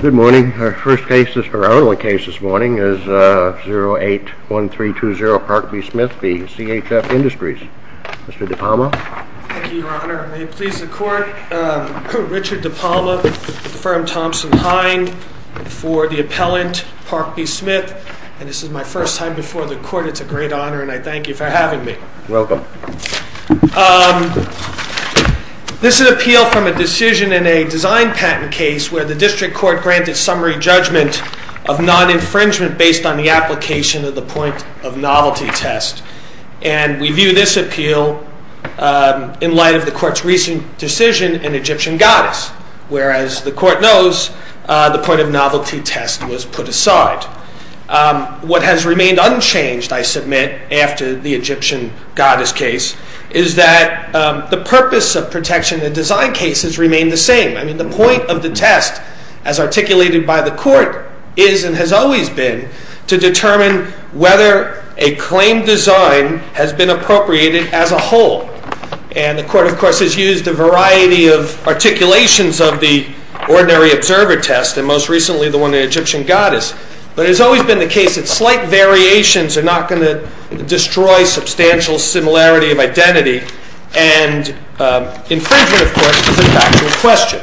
Good morning. Our first case, or our only case this morning, is 081320 Park B. Smith v. CHF Industries. Mr. DePalma. Thank you, Your Honor. May it please the Court, Richard DePalma with the firm Thompson-Hein for the appellant Park B. Smith. And this is my first time before the Court. It's a great honor, and I thank you for having me. You're welcome. This is an appeal from a decision in a design patent case where the District Court granted summary judgment of non-infringement based on the application of the point of novelty test. And we view this appeal in light of the Court's recent decision in Egyptian goddess, whereas the Court knows the point of novelty test was put aside. What has remained unchanged, I submit, after the Egyptian goddess case is that the purpose of protection in design cases remain the same. I mean, the point of the test, as articulated by the Court, is and has always been to determine whether a claim design has been appropriated as a whole. And the Court, of course, has used a variety of articulations of the ordinary observer test, and most recently the one in Egyptian goddess. But it has always been the case that slight variations are not going to destroy substantial similarity of identity. And infringement, of course, is a factual question.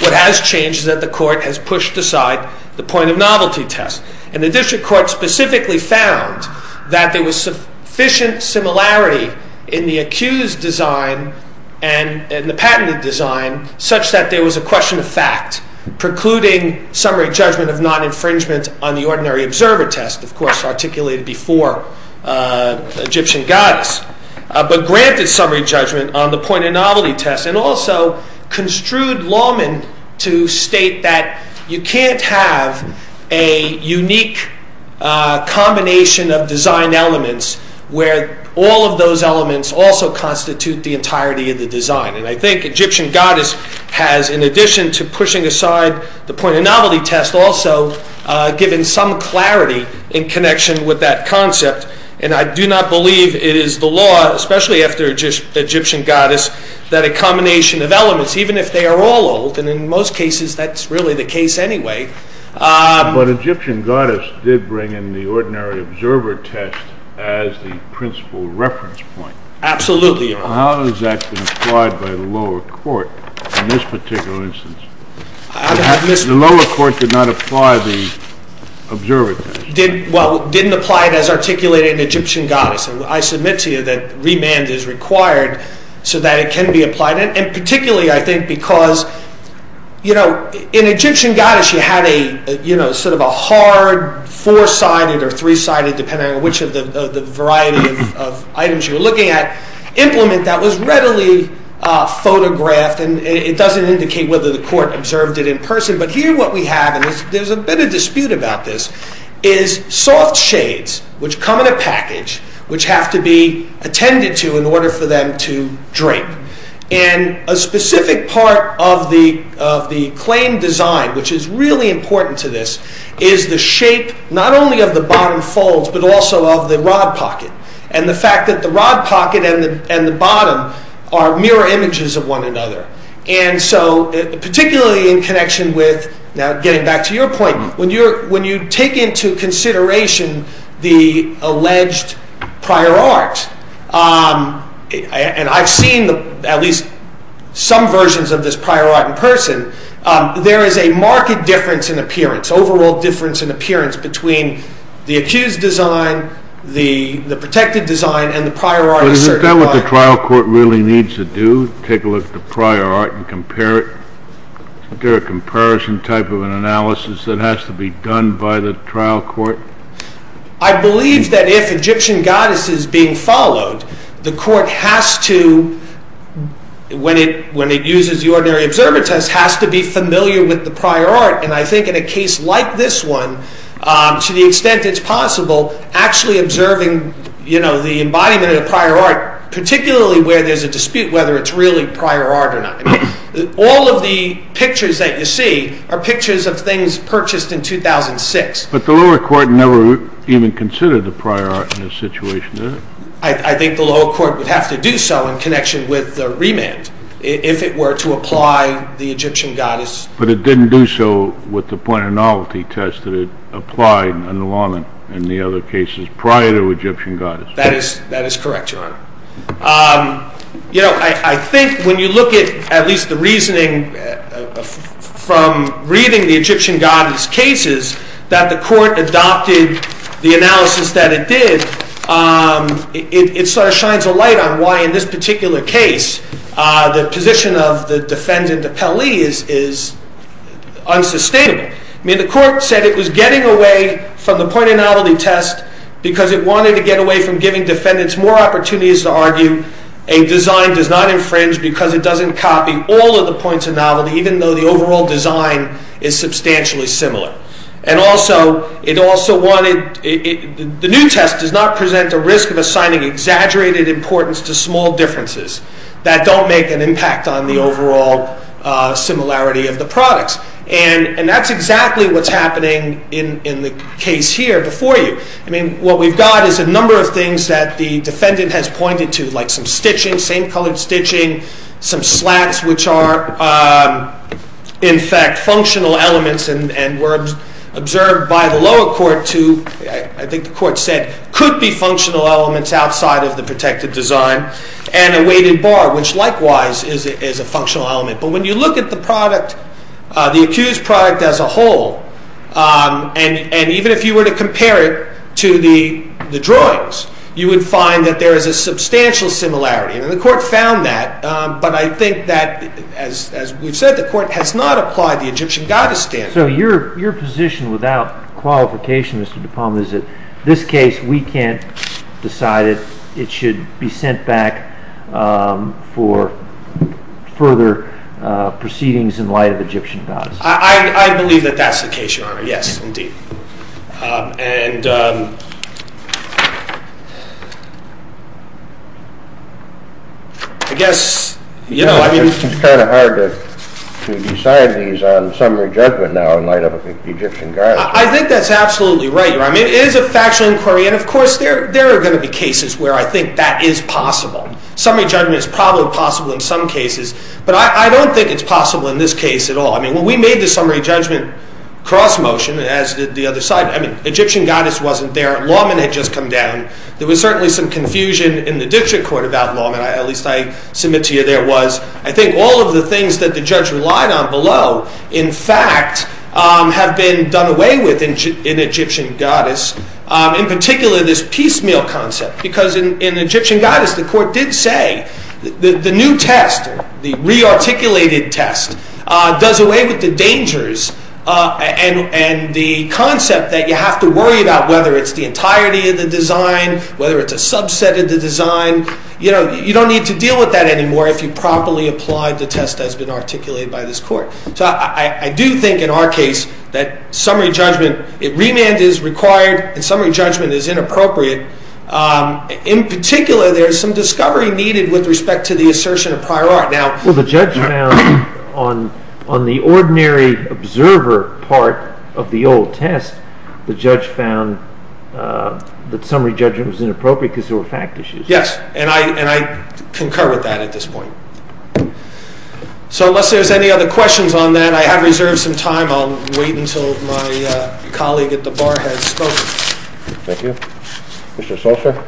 What has changed is that the Court has pushed aside the point of novelty test. And the District Court specifically found that there was sufficient similarity in the accused design and the patented design such that there was a question of fact, precluding summary judgment of non-infringement on the ordinary observer test, of course articulated before Egyptian goddess, but granted summary judgment on the point of novelty test, and also construed lawmen to state that you can't have a unique combination of design elements where all of those elements also constitute the entirety of the design. And I think Egyptian goddess has, in addition to pushing aside the point of novelty test, also given some clarity in connection with that concept. And I do not believe it is the law, especially after Egyptian goddess, that a combination of elements, even if they are all old, and in most cases that's really the case anyway. But Egyptian goddess did bring in the ordinary observer test as the principal reference point. Absolutely, Your Honor. How has that been applied by the lower court in this particular instance? The lower court did not apply the observer test. Well, didn't apply it as articulated in Egyptian goddess. And I submit to you that remand is required so that it can be applied. And particularly, I think, because in Egyptian goddess you had a sort of a hard four-sided or three-sided, depending on which of the variety of items you were looking at, implement that was readily photographed. And it doesn't indicate whether the court observed it in person. But here what we have, and there's a bit of dispute about this, is soft shades, which come in a package, which have to be attended to in order for them to drape. And a specific part of the claim design, which is really important to this, is the shape, not only of the bottom folds, but also of the rod pocket. And the fact that the rod pocket and the bottom are mirror images of one another. And so, particularly in connection with, now getting back to your point, when you take into consideration the alleged prior art, and I've seen at least some versions of this prior art in person, there is a marked difference in appearance, overall difference in appearance, between the accused design, the protected design, and the prior art. Is that what the trial court really needs to do? Take a look at the prior art and compare it? Is there a comparison type of an analysis that has to be done by the trial court? I believe that if Egyptian goddess is being followed, the court has to, when it uses the ordinary observer test, has to be familiar with the prior art. And I think in a case like this one, to the extent it's possible, actually observing the embodiment of the prior art, particularly where there's a dispute whether it's really prior art or not. All of the pictures that you see are pictures of things purchased in 2006. But the lower court never even considered the prior art in this situation, did it? I think the lower court would have to do so in connection with the remand, if it were to apply the Egyptian goddess. But it didn't do so with the point of novelty test that it applied under law in the other cases prior to Egyptian goddess. That is correct, Your Honor. You know, I think when you look at at least the reasoning from reading the Egyptian goddess cases, that the court adopted the analysis that it did, it sort of shines a light on why in this particular case the position of the defendant of Peli is unsustainable. I mean, the court said it was getting away from the point of novelty test because it wanted to get away from giving defendants more opportunities to argue a design does not infringe because it doesn't copy all of the points of novelty, even though the overall design is substantially similar. And also, the new test does not present a risk of assigning exaggerated importance to small differences that don't make an impact on the overall similarity of the products. And that's exactly what's happening in the case here before you. I mean, what we've got is a number of things that the defendant has pointed to, like some stitching, same-colored stitching, some slats, which are in fact functional elements and were observed by the lower court to, I think the court said, could be functional elements outside of the protected design, and a weighted bar, which likewise is a functional element. But when you look at the accused product as a whole, you would find that there is a substantial similarity. And the court found that, but I think that, as we've said, the court has not applied the Egyptian goddess standard. So your position without qualification, Mr. DuPont, is that in this case we can't decide it. It should be sent back for further proceedings in light of Egyptian goddess. I believe that that's the case, Your Honor. Yes, indeed. And I guess, you know, I mean... It's kind of hard to decide these on summary judgment now in light of Egyptian goddess. I think that's absolutely right, Your Honor. I mean, it is a factual inquiry, and of course there are going to be cases where I think that is possible. Summary judgment is probably possible in some cases, but I don't think it's possible in this case at all. I mean, when we made the summary judgment cross-motion, as did the other side, I mean, Egyptian goddess wasn't there, lawmen had just come down. There was certainly some confusion in the Diction Court about lawmen. At least I submit to you there was. I think all of the things that the judge relied on below, in fact, have been done away with in Egyptian goddess. In particular, this piecemeal concept, because in Egyptian goddess the court did say that the new test, the re-articulated test, does away with the dangers and the concept that you have to worry about whether it's the entirety of the design, whether it's a subset of the design. You know, you don't need to deal with that anymore if you properly applied the test that's been articulated by this court. So I do think in our case that summary judgment, remand is required, and summary judgment is inappropriate. In particular, there's some discovery needed with respect to the assertion of prior art. Well, the judge found on the ordinary observer part of the old test, the judge found that summary judgment was inappropriate because there were fact issues. Yes, and I concur with that at this point. So unless there's any other questions on that, I have reserved some time. I'll wait until my colleague at the bar has spoken. Thank you. Mr. Solcher?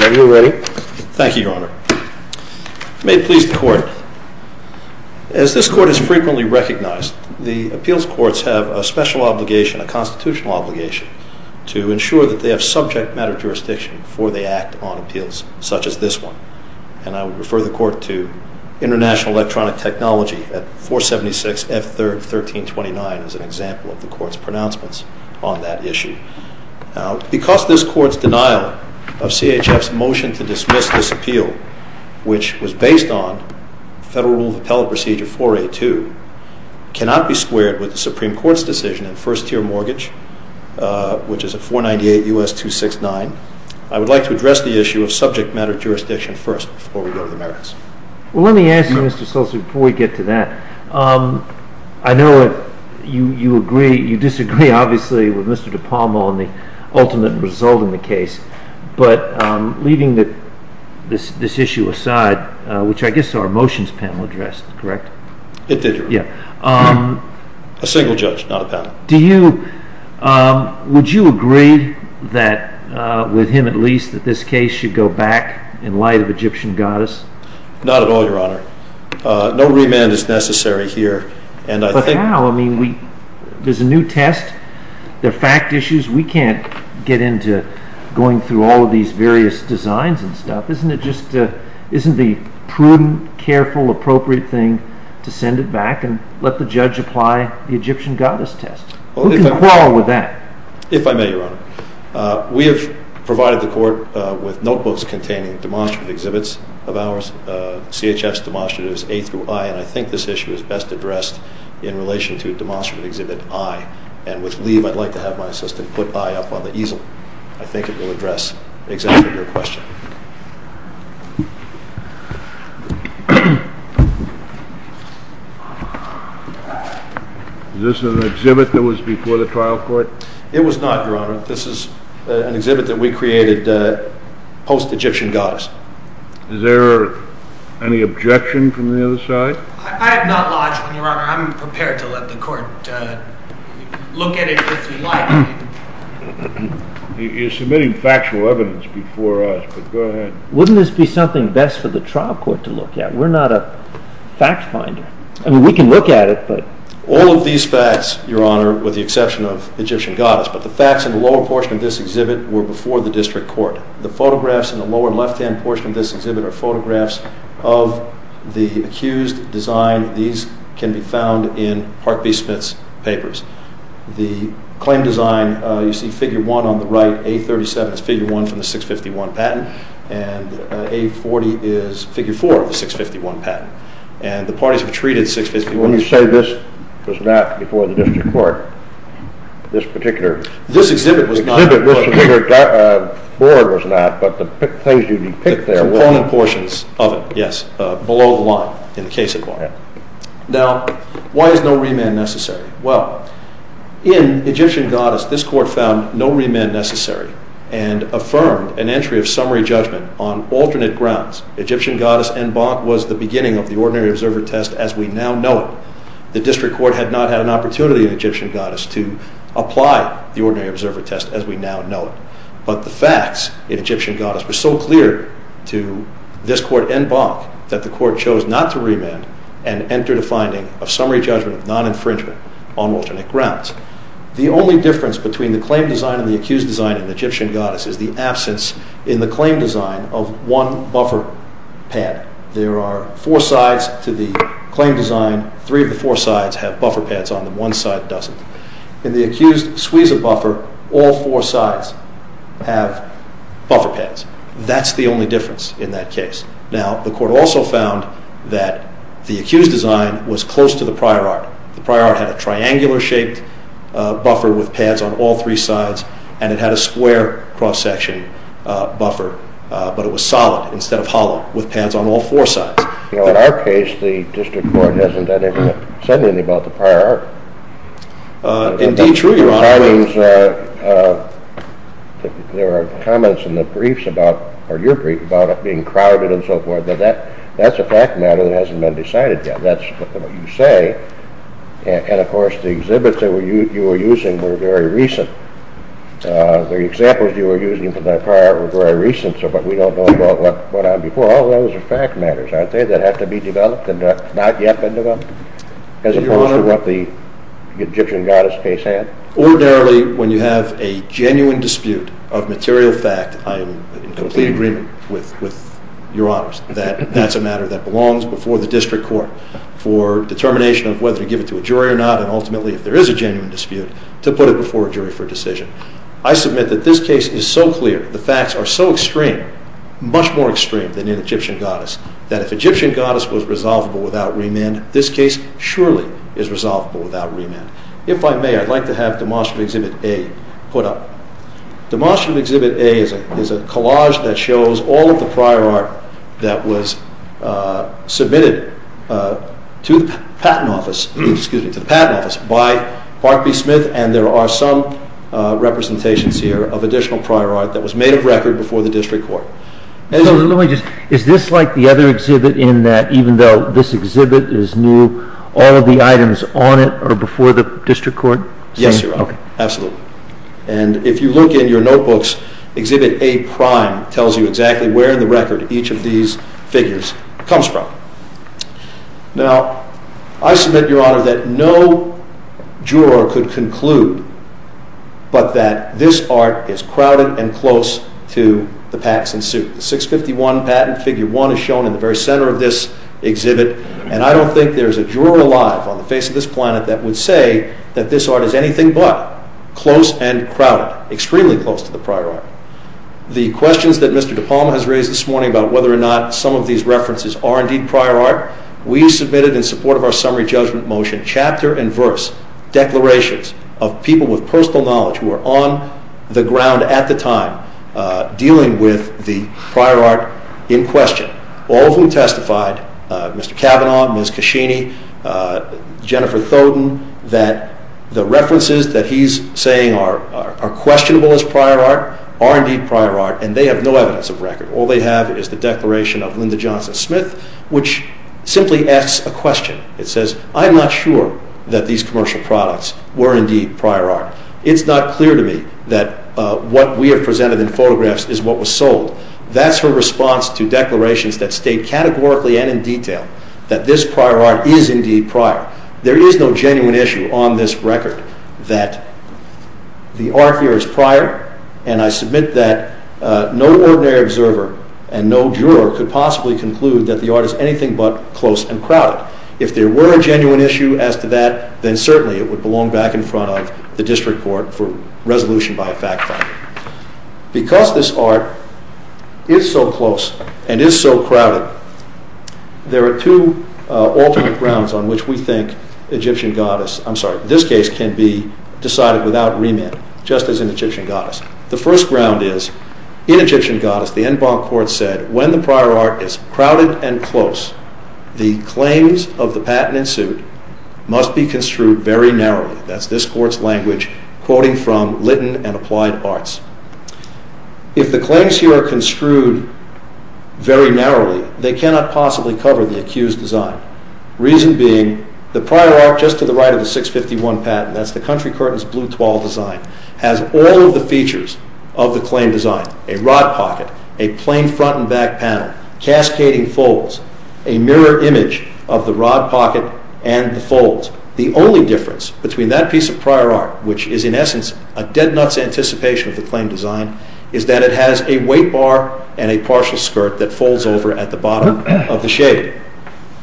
Are you ready? May it please the court. As this court has frequently recognized, the appeals courts have a special obligation, a constitutional obligation, to ensure that they have subject matter jurisdiction before they act on appeals such as this one. And I would refer the court to International Electronic Technology at 476 F. 3rd, 1329 as an example of the court's pronouncements on that issue. Now, because this court's denial of CHF's motion to dismiss this appeal, which was based on Federal Rule of Appellate Procedure 4A. 2, cannot be squared with the Supreme Court's decision in first-tier mortgage, which is at 498 U.S. 269, I would like to address the issue of subject matter jurisdiction first before we go to the merits. Well, let me ask you, Mr. Solcher, before we get to that, I know you disagree, obviously, with Mr. DePalmo on the ultimate result in the case, but leaving this issue aside, which I guess our motions panel addressed, correct? It did, Your Honor. Yeah. A single judge, not a panel. Would you agree with him, at least, that this case should go back in light of Egyptian goddess? Not at all, Your Honor. No remand is necessary here, and I think— But how? I mean, there's a new test. There are fact issues. We can't get into going through all of these various designs and stuff. Isn't it just—isn't the prudent, careful, appropriate thing to send it back and let the judge apply the Egyptian goddess test? Who can quarrel with that? If I may, Your Honor. We have provided the court with notebooks containing demonstrative exhibits of ours, CHF's demonstratives, A through I, and I think this issue is best addressed in relation to a demonstrative exhibit, I. And with leave, I'd like to have my assistant put I up on the easel. I think it will address exactly your question. Is this an exhibit that was before the trial court? It was not, Your Honor. This is an exhibit that we created post-Egyptian goddess. Is there any objection from the other side? I have not lodged one, Your Honor. I'm prepared to let the court look at it if you like. You're submitting factual evidence before us, but go ahead. Wouldn't this be something best for the trial court to look at? We're not a fact finder. I mean, we can look at it, but— All of these facts, Your Honor, with the exception of Egyptian goddess, but the facts in the lower portion of this exhibit were before the district court. The photographs in the lower left-hand portion of this exhibit are photographs of the accused design. These can be found in Park B. Smith's papers. The claim design, you see figure one on the right, A37, is figure one from the 651 patent, and A40 is figure four of the 651 patent. And the parties have treated 651— When you say this was not before the district court, this particular— The component portions of it, yes, below the line in the case at Bar. Now, why is no remand necessary? Well, in Egyptian goddess, this court found no remand necessary and affirmed an entry of summary judgment on alternate grounds. Egyptian goddess en banc was the beginning of the ordinary observer test as we now know it. The district court had not had an opportunity in Egyptian goddess to apply the ordinary observer test as we now know it. But the facts in Egyptian goddess were so clear to this court en banc that the court chose not to remand and entered a finding of summary judgment of non-infringement on alternate grounds. The only difference between the claim design and the accused design in Egyptian goddess is the absence in the claim design of one buffer pad. There are four sides to the claim design. Three of the four sides have buffer pads on them. One side doesn't. In the accused Suiza buffer, all four sides have buffer pads. That's the only difference in that case. Now, the court also found that the accused design was close to the prior art. The prior art had a triangular-shaped buffer with pads on all three sides and it had a square cross-section buffer, but it was solid instead of hollow with pads on all four sides. In our case, the district court hasn't said anything about the prior art. Indeed, truly, Your Honor. There are comments in your brief about it being crowded and so forth. That's a fact matter that hasn't been decided yet. That's what you say. And, of course, the exhibits that you were using were very recent. The examples you were using for the prior art were very recent, but we don't know about what happened before. Well, those are fact matters, aren't they, that have to be developed and have not yet been developed, as opposed to what the Egyptian goddess case had? Ordinarily, when you have a genuine dispute of material fact, I am in complete agreement with Your Honors that that's a matter that belongs before the district court for determination of whether to give it to a jury or not and, ultimately, if there is a genuine dispute, to put it before a jury for a decision. I submit that this case is so clear, the facts are so extreme, much more extreme than in Egyptian goddess, that if Egyptian goddess was resolvable without remand, this case surely is resolvable without remand. If I may, I'd like to have Demonstrative Exhibit A put up. Demonstrative Exhibit A is a collage that shows all of the prior art that was submitted to the Patent Office by Park B. Smith, and there are some representations here of additional prior art that was made of record before the district court. Is this like the other exhibit in that, even though this exhibit is new, all of the items on it are before the district court? Yes, Your Honor. Absolutely. And if you look in your notebooks, Exhibit A-prime tells you exactly where in the record each of these figures comes from. Now, I submit, Your Honor, that no juror could conclude but that this art is crowded and close to the pacts in suit. The 651 patent, Figure 1, is shown in the very center of this exhibit, and I don't think there's a juror alive on the face of this planet that would say that this art is anything but close and crowded, extremely close to the prior art. The questions that Mr. DePalma has raised this morning about whether or not some of these references are indeed prior art, we submitted in support of our summary judgment motion, chapter and verse declarations of people with personal knowledge who are on the ground at the time dealing with the prior art in question, all of whom testified, Mr. Cavanaugh, Ms. Cascini, Jennifer Thoden, that the references that he's saying are questionable as prior art are indeed prior art, and they have no evidence of record. All they have is the declaration of Linda Johnson Smith, which simply asks a question. It says, I'm not sure that these commercial products were indeed prior art. It's not clear to me that what we have presented in photographs is what was sold. That's her response to declarations that state categorically and in detail that this prior art is indeed prior. There is no genuine issue on this record that the art here is prior, and I submit that no ordinary observer and no juror could possibly conclude that the art is anything but close and crowded. If there were a genuine issue as to that, then certainly it would belong back in front of the district court for resolution by a fact finder. Because this art is so close and is so crowded, there are two alternate grounds on which we think Egyptian goddess, I'm sorry, this case can be decided without remand, just as in Egyptian goddess. The first ground is in Egyptian goddess, the en banc court said, when the prior art is crowded and close, the claims of the patent in suit must be construed very narrowly. That's this court's language quoting from Litton and Applied Arts. If the claims here are construed very narrowly, they cannot possibly cover the accused design. Reason being, the prior art just to the right of the 651 patent, that's the country curtain's blue twall design, has all of the features of the claim design, a rod pocket, a plain front and back panel, cascading folds, a mirror image of the rod pocket and the folds. The only difference between that piece of prior art, which is in essence a dead nuts anticipation of the claim design, is that it has a weight bar and a partial skirt that folds over at the bottom of the shade.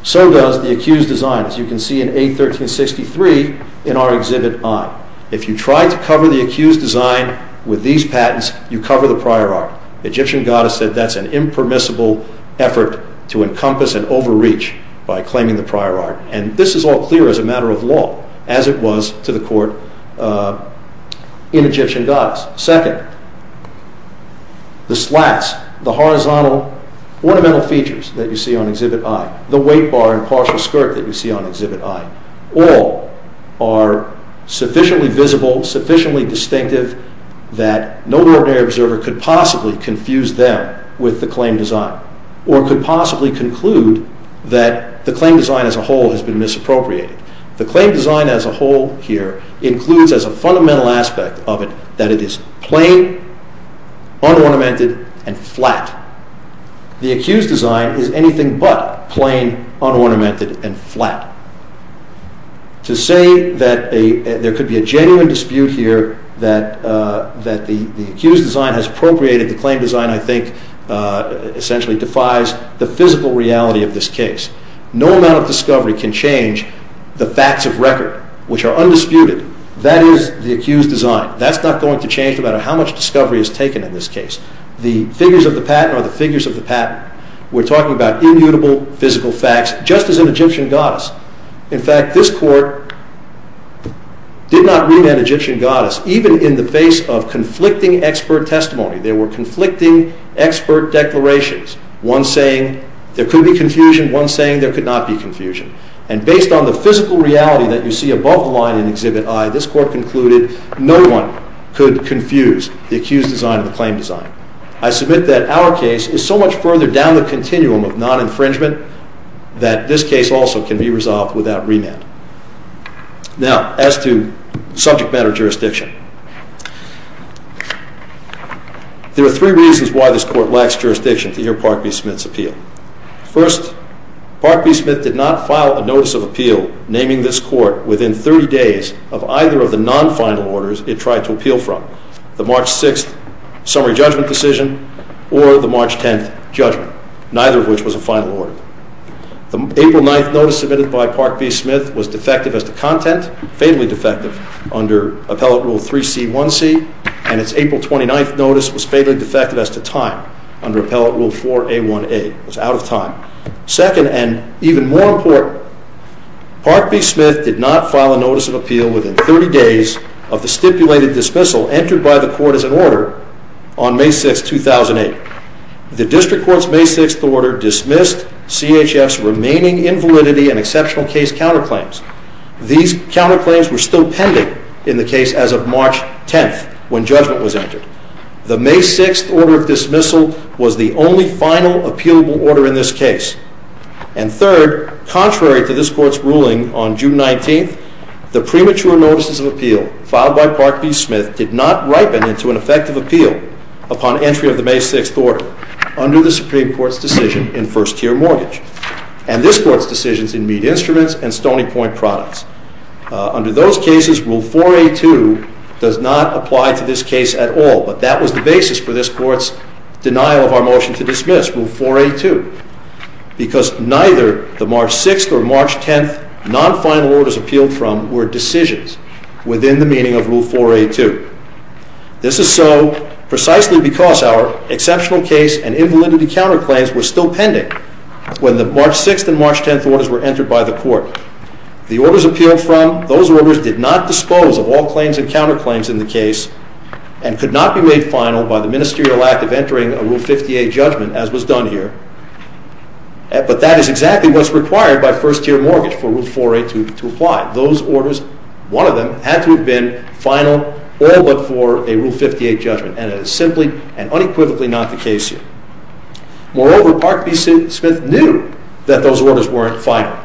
So does the accused design as you can see in A1363 in our exhibit on. If you try to cover the accused design with these patents, you cover the prior art. Egyptian goddess said that's an impermissible effort to encompass and overreach by claiming the prior art. And this is all clear as a matter of law, as it was to the court in Egyptian goddess. Second, the slats, the horizontal ornamental features that you see on exhibit I, the weight bar and partial skirt that you see on exhibit I, all are sufficiently visible, sufficiently distinctive that no ordinary observer could possibly confuse them with the claim design, or could possibly conclude that the claim design as a whole has been misappropriated. The claim design as a whole here includes as a fundamental aspect of it that it is plain, unornamented and flat. The accused design is anything but plain, unornamented and flat. To say that there could be a genuine dispute here that the accused design has appropriated the claim design, I think essentially defies the physical reality of this case. No amount of discovery can change the facts of record, which are undisputed. That is the accused design. That's not going to change no matter how much discovery is taken in this case. The figures of the patent are the figures of the patent. We're talking about immutable physical facts, just as in Egyptian goddess. In fact, this court did not remand Egyptian goddess even in the face of conflicting expert testimony. There were conflicting expert declarations, one saying there could be confusion, one saying there could not be confusion. And based on the physical reality that you see above the line in Exhibit I, this court concluded no one could confuse the accused design and the claim design. I submit that our case is so much further down the continuum of non-infringement that this case also can be resolved without remand. Now, as to subject matter jurisdiction, there are three reasons why this court lacks jurisdiction to hear Park v. Smith's appeal. First, Park v. Smith did not file a notice of appeal naming this court within 30 days of either of the non-final orders it tried to appeal from, the March 6th summary judgment decision or the March 10th judgment, neither of which was a final order. The April 9th notice submitted by Park v. Smith was defective as to content, fatally defective, under Appellate Rule 3C1C, and its April 29th notice was fatally defective as to time under Appellate Rule 4A1A. It was out of time. Second, and even more important, Park v. Smith did not file a notice of appeal within 30 days of the stipulated dismissal entered by the court as an order on May 6, 2008. The district court's May 6th order dismissed CHF's remaining invalidity and exceptional case counterclaims. These counterclaims were still pending in the case as of March 10th when judgment was entered. The May 6th order of dismissal was the only final appealable order in this case. And third, contrary to this court's ruling on June 19th, the premature notices of appeal filed by Park v. Smith did not ripen into an effective appeal upon entry of the May 6th order under the Supreme Court's decision in first-tier mortgage and this court's decisions in meat instruments and Stony Point products. Under those cases, Rule 4A2 does not apply to this case at all, but that was the basis for this court's denial of our motion to dismiss, Rule 4A2, because neither the March 6th or March 10th non-final orders appealed from were decisions within the meaning of Rule 4A2. This is so precisely because our exceptional case and invalidity counterclaims were still pending when the March 6th and March 10th orders were entered by the court. The orders appealed from those orders did not dispose of all claims and counterclaims in the case and could not be made final by the ministerial act of entering a Rule 58 judgment, as was done here. But that is exactly what's required by first-tier mortgage for Rule 4A2 to apply. Those orders, one of them, had to have been final all but for a Rule 58 judgment, and it is simply and unequivocally not the case here. Moreover, Park B. Smith knew that those orders weren't final.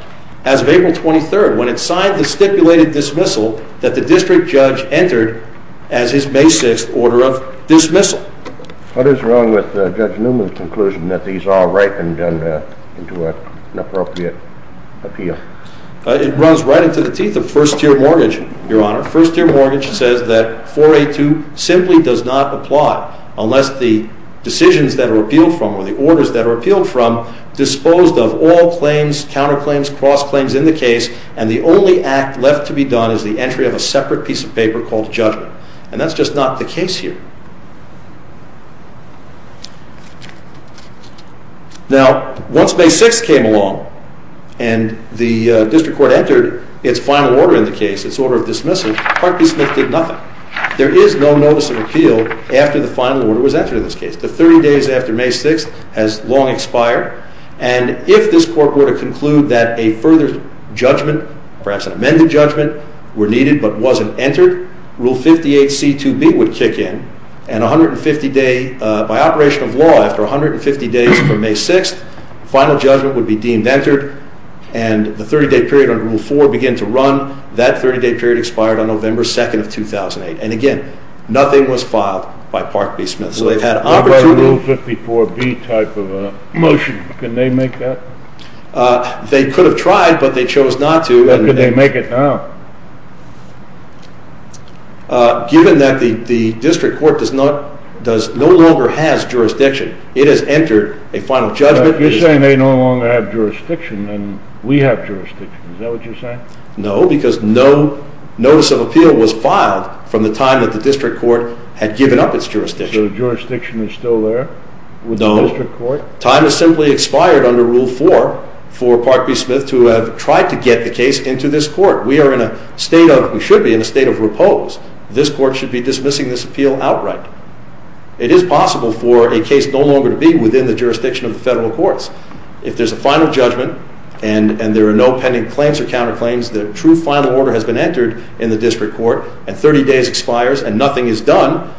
As of April 23rd, when it signed the stipulated dismissal that the district judge entered as his May 6th order of dismissal. What is wrong with Judge Newman's conclusion that these are right and done into an appropriate appeal? It runs right into the teeth of first-tier mortgage, Your Honor. First-tier mortgage says that 4A2 simply does not apply unless the decisions that are appealed from or the orders that are appealed from disposed of all claims, counterclaims, cross-claims in the case, and the only act left to be done is the entry of a separate piece of paper called judgment. And that's just not the case here. Now, once May 6th came along and the district court entered its final order in the case, its order of dismissal, Park B. Smith did nothing. There is no notice of appeal after the final order was entered in this case. The 30 days after May 6th has long expired, and if this court were to conclude that a further judgment, perhaps an amended judgment, were needed but wasn't entered, Rule 58C2B would kick in, and 150 days, by operation of law, after 150 days from May 6th, the final judgment would be deemed entered, and the 30-day period under Rule 4 would begin to run. That 30-day period expired on November 2nd of 2008. And again, nothing was filed by Park B. Smith. So they've had opportunity... What about Rule 54B type of a motion? Couldn't they make that? They could have tried, but they chose not to. How could they make it now? Given that the district court no longer has jurisdiction, it has entered a final judgment... You're saying they no longer have jurisdiction, and we have jurisdiction. Is that what you're saying? No, because no notice of appeal was filed from the time that the district court had given up its jurisdiction. So the jurisdiction is still there with the district court? No. Time has simply expired under Rule 4 for Park B. Smith to have tried to get the case into this court. We are in a state of... We should be in a state of repose. This court should be dismissing this appeal outright. It is possible for a case no longer to be within the jurisdiction of the federal courts. If there's a final judgment, and there are no pending claims or counterclaims, the true final order has been entered in the district court, and 30 days expires and nothing is done,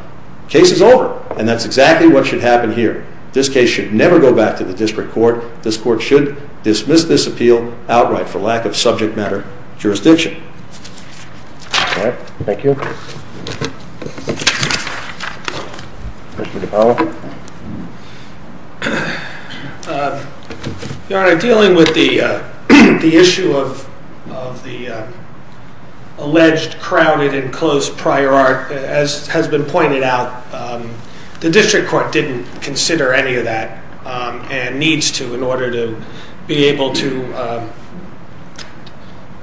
the case is over. And that's exactly what should happen here. This case should never go back to the district court. This court should dismiss this appeal outright for lack of subject matter jurisdiction. All right. Thank you. Commissioner DePaulo. Your Honor, dealing with the issue of the alleged crowded and closed prior art, as has been pointed out, the district court didn't consider any of that and needs to in order to be able to...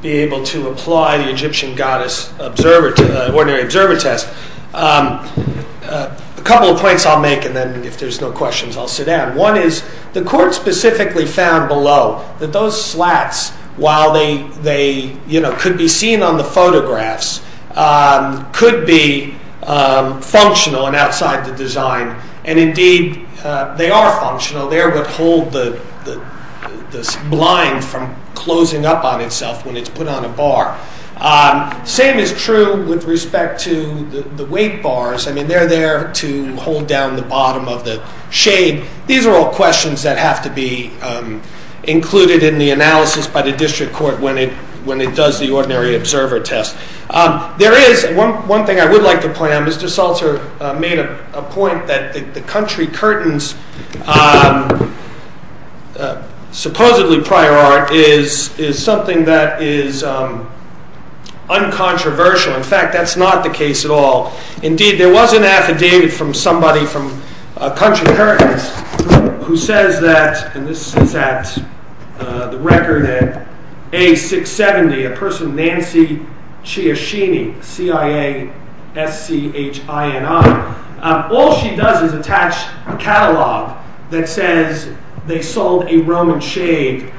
be able to apply the Egyptian goddess ordinary observer test. A couple of points I'll make, and then if there's no questions, I'll sit down. One is, the court specifically found below that those slats, while they could be seen on the photographs, could be functional and outside the design. And indeed, they are functional. They're what hold the blind from closing up on itself when it's put on a bar. Same is true with respect to the weight bars. I mean, they're there to hold down the bottom of the shade. These are all questions that have to be included in the analysis by the district court when it does the ordinary observer test. There is one thing I would like to point out. Mr. Salter made a point that the country curtains, supposedly prior art, is something that is uncontroversial. In fact, that's not the case at all. Indeed, there was an affidavit from somebody, from a country curtain, who says that, and this is at the record at A670, a person, Nancy Chiaschini, C-I-A-S-C-H-I-N-I. All she does is attach a catalog that says they sold a Roman shade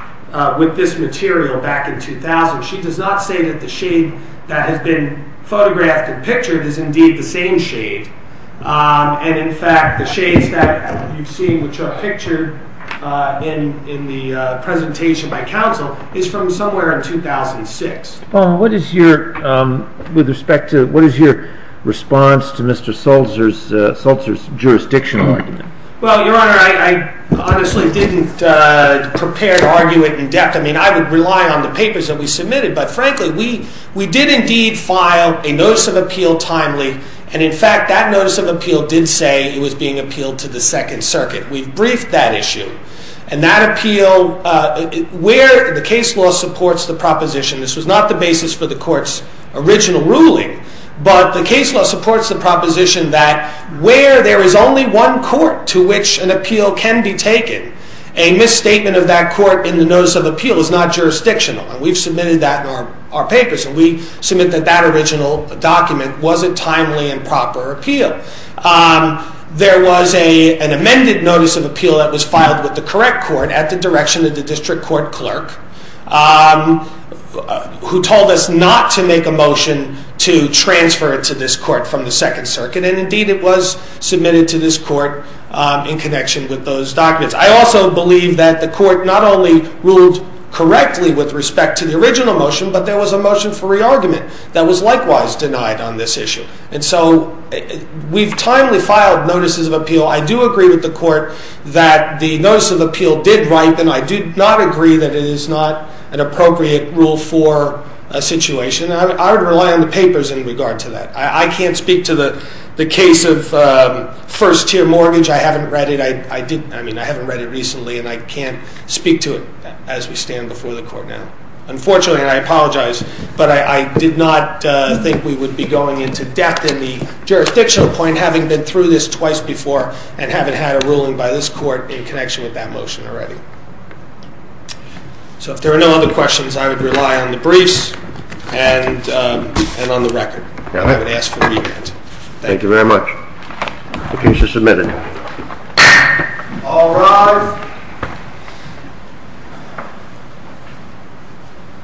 with this material back in 2000. She does not say that the shade that has been photographed and pictured is indeed the same shade. In fact, the shades that you've seen, which are pictured in the presentation by counsel, is from somewhere in 2006. What is your response to Mr. Salter's jurisdictional argument? Well, Your Honor, I honestly didn't prepare to argue it in depth. I mean, I would rely on the papers that we submitted, but frankly, we did indeed file a notice of appeal timely, and in fact, that notice of appeal did say it was being appealed to the Second Circuit. We've briefed that issue, and that appeal, where the case law supports the proposition, this was not the basis for the Court's original ruling, but the case law supports the proposition that where there is only one court to which an appeal can be taken, a misstatement of that court in the notice of appeal is not jurisdictional, and we've submitted that in our papers, and we submit that that original document wasn't timely and proper appeal. There was an amended notice of appeal that was filed with the correct court at the direction of the district court clerk, who told us not to make a motion to transfer it to this court from the Second Circuit, and indeed it was submitted to this court in connection with those documents. I also believe that the court not only ruled correctly with respect to the original motion, but there was a motion for re-argument that was likewise denied on this issue. And so we've timely filed notices of appeal. I do agree with the court that the notice of appeal did write, and I do not agree that it is not an appropriate rule for a situation, and I would rely on the papers in regard to that. I can't speak to the case of first-tier mortgage. I haven't read it. I mean, I haven't read it recently, and I can't speak to it as we stand before the court now. Unfortunately, and I apologize, but I did not think we would be going into depth in the jurisdictional point, having been through this twice before and haven't had a ruling by this court in connection with that motion already. So if there are no other questions, I would rely on the briefs and on the record. I would ask for re-argument. Thank you very much. The case is submitted. All rise.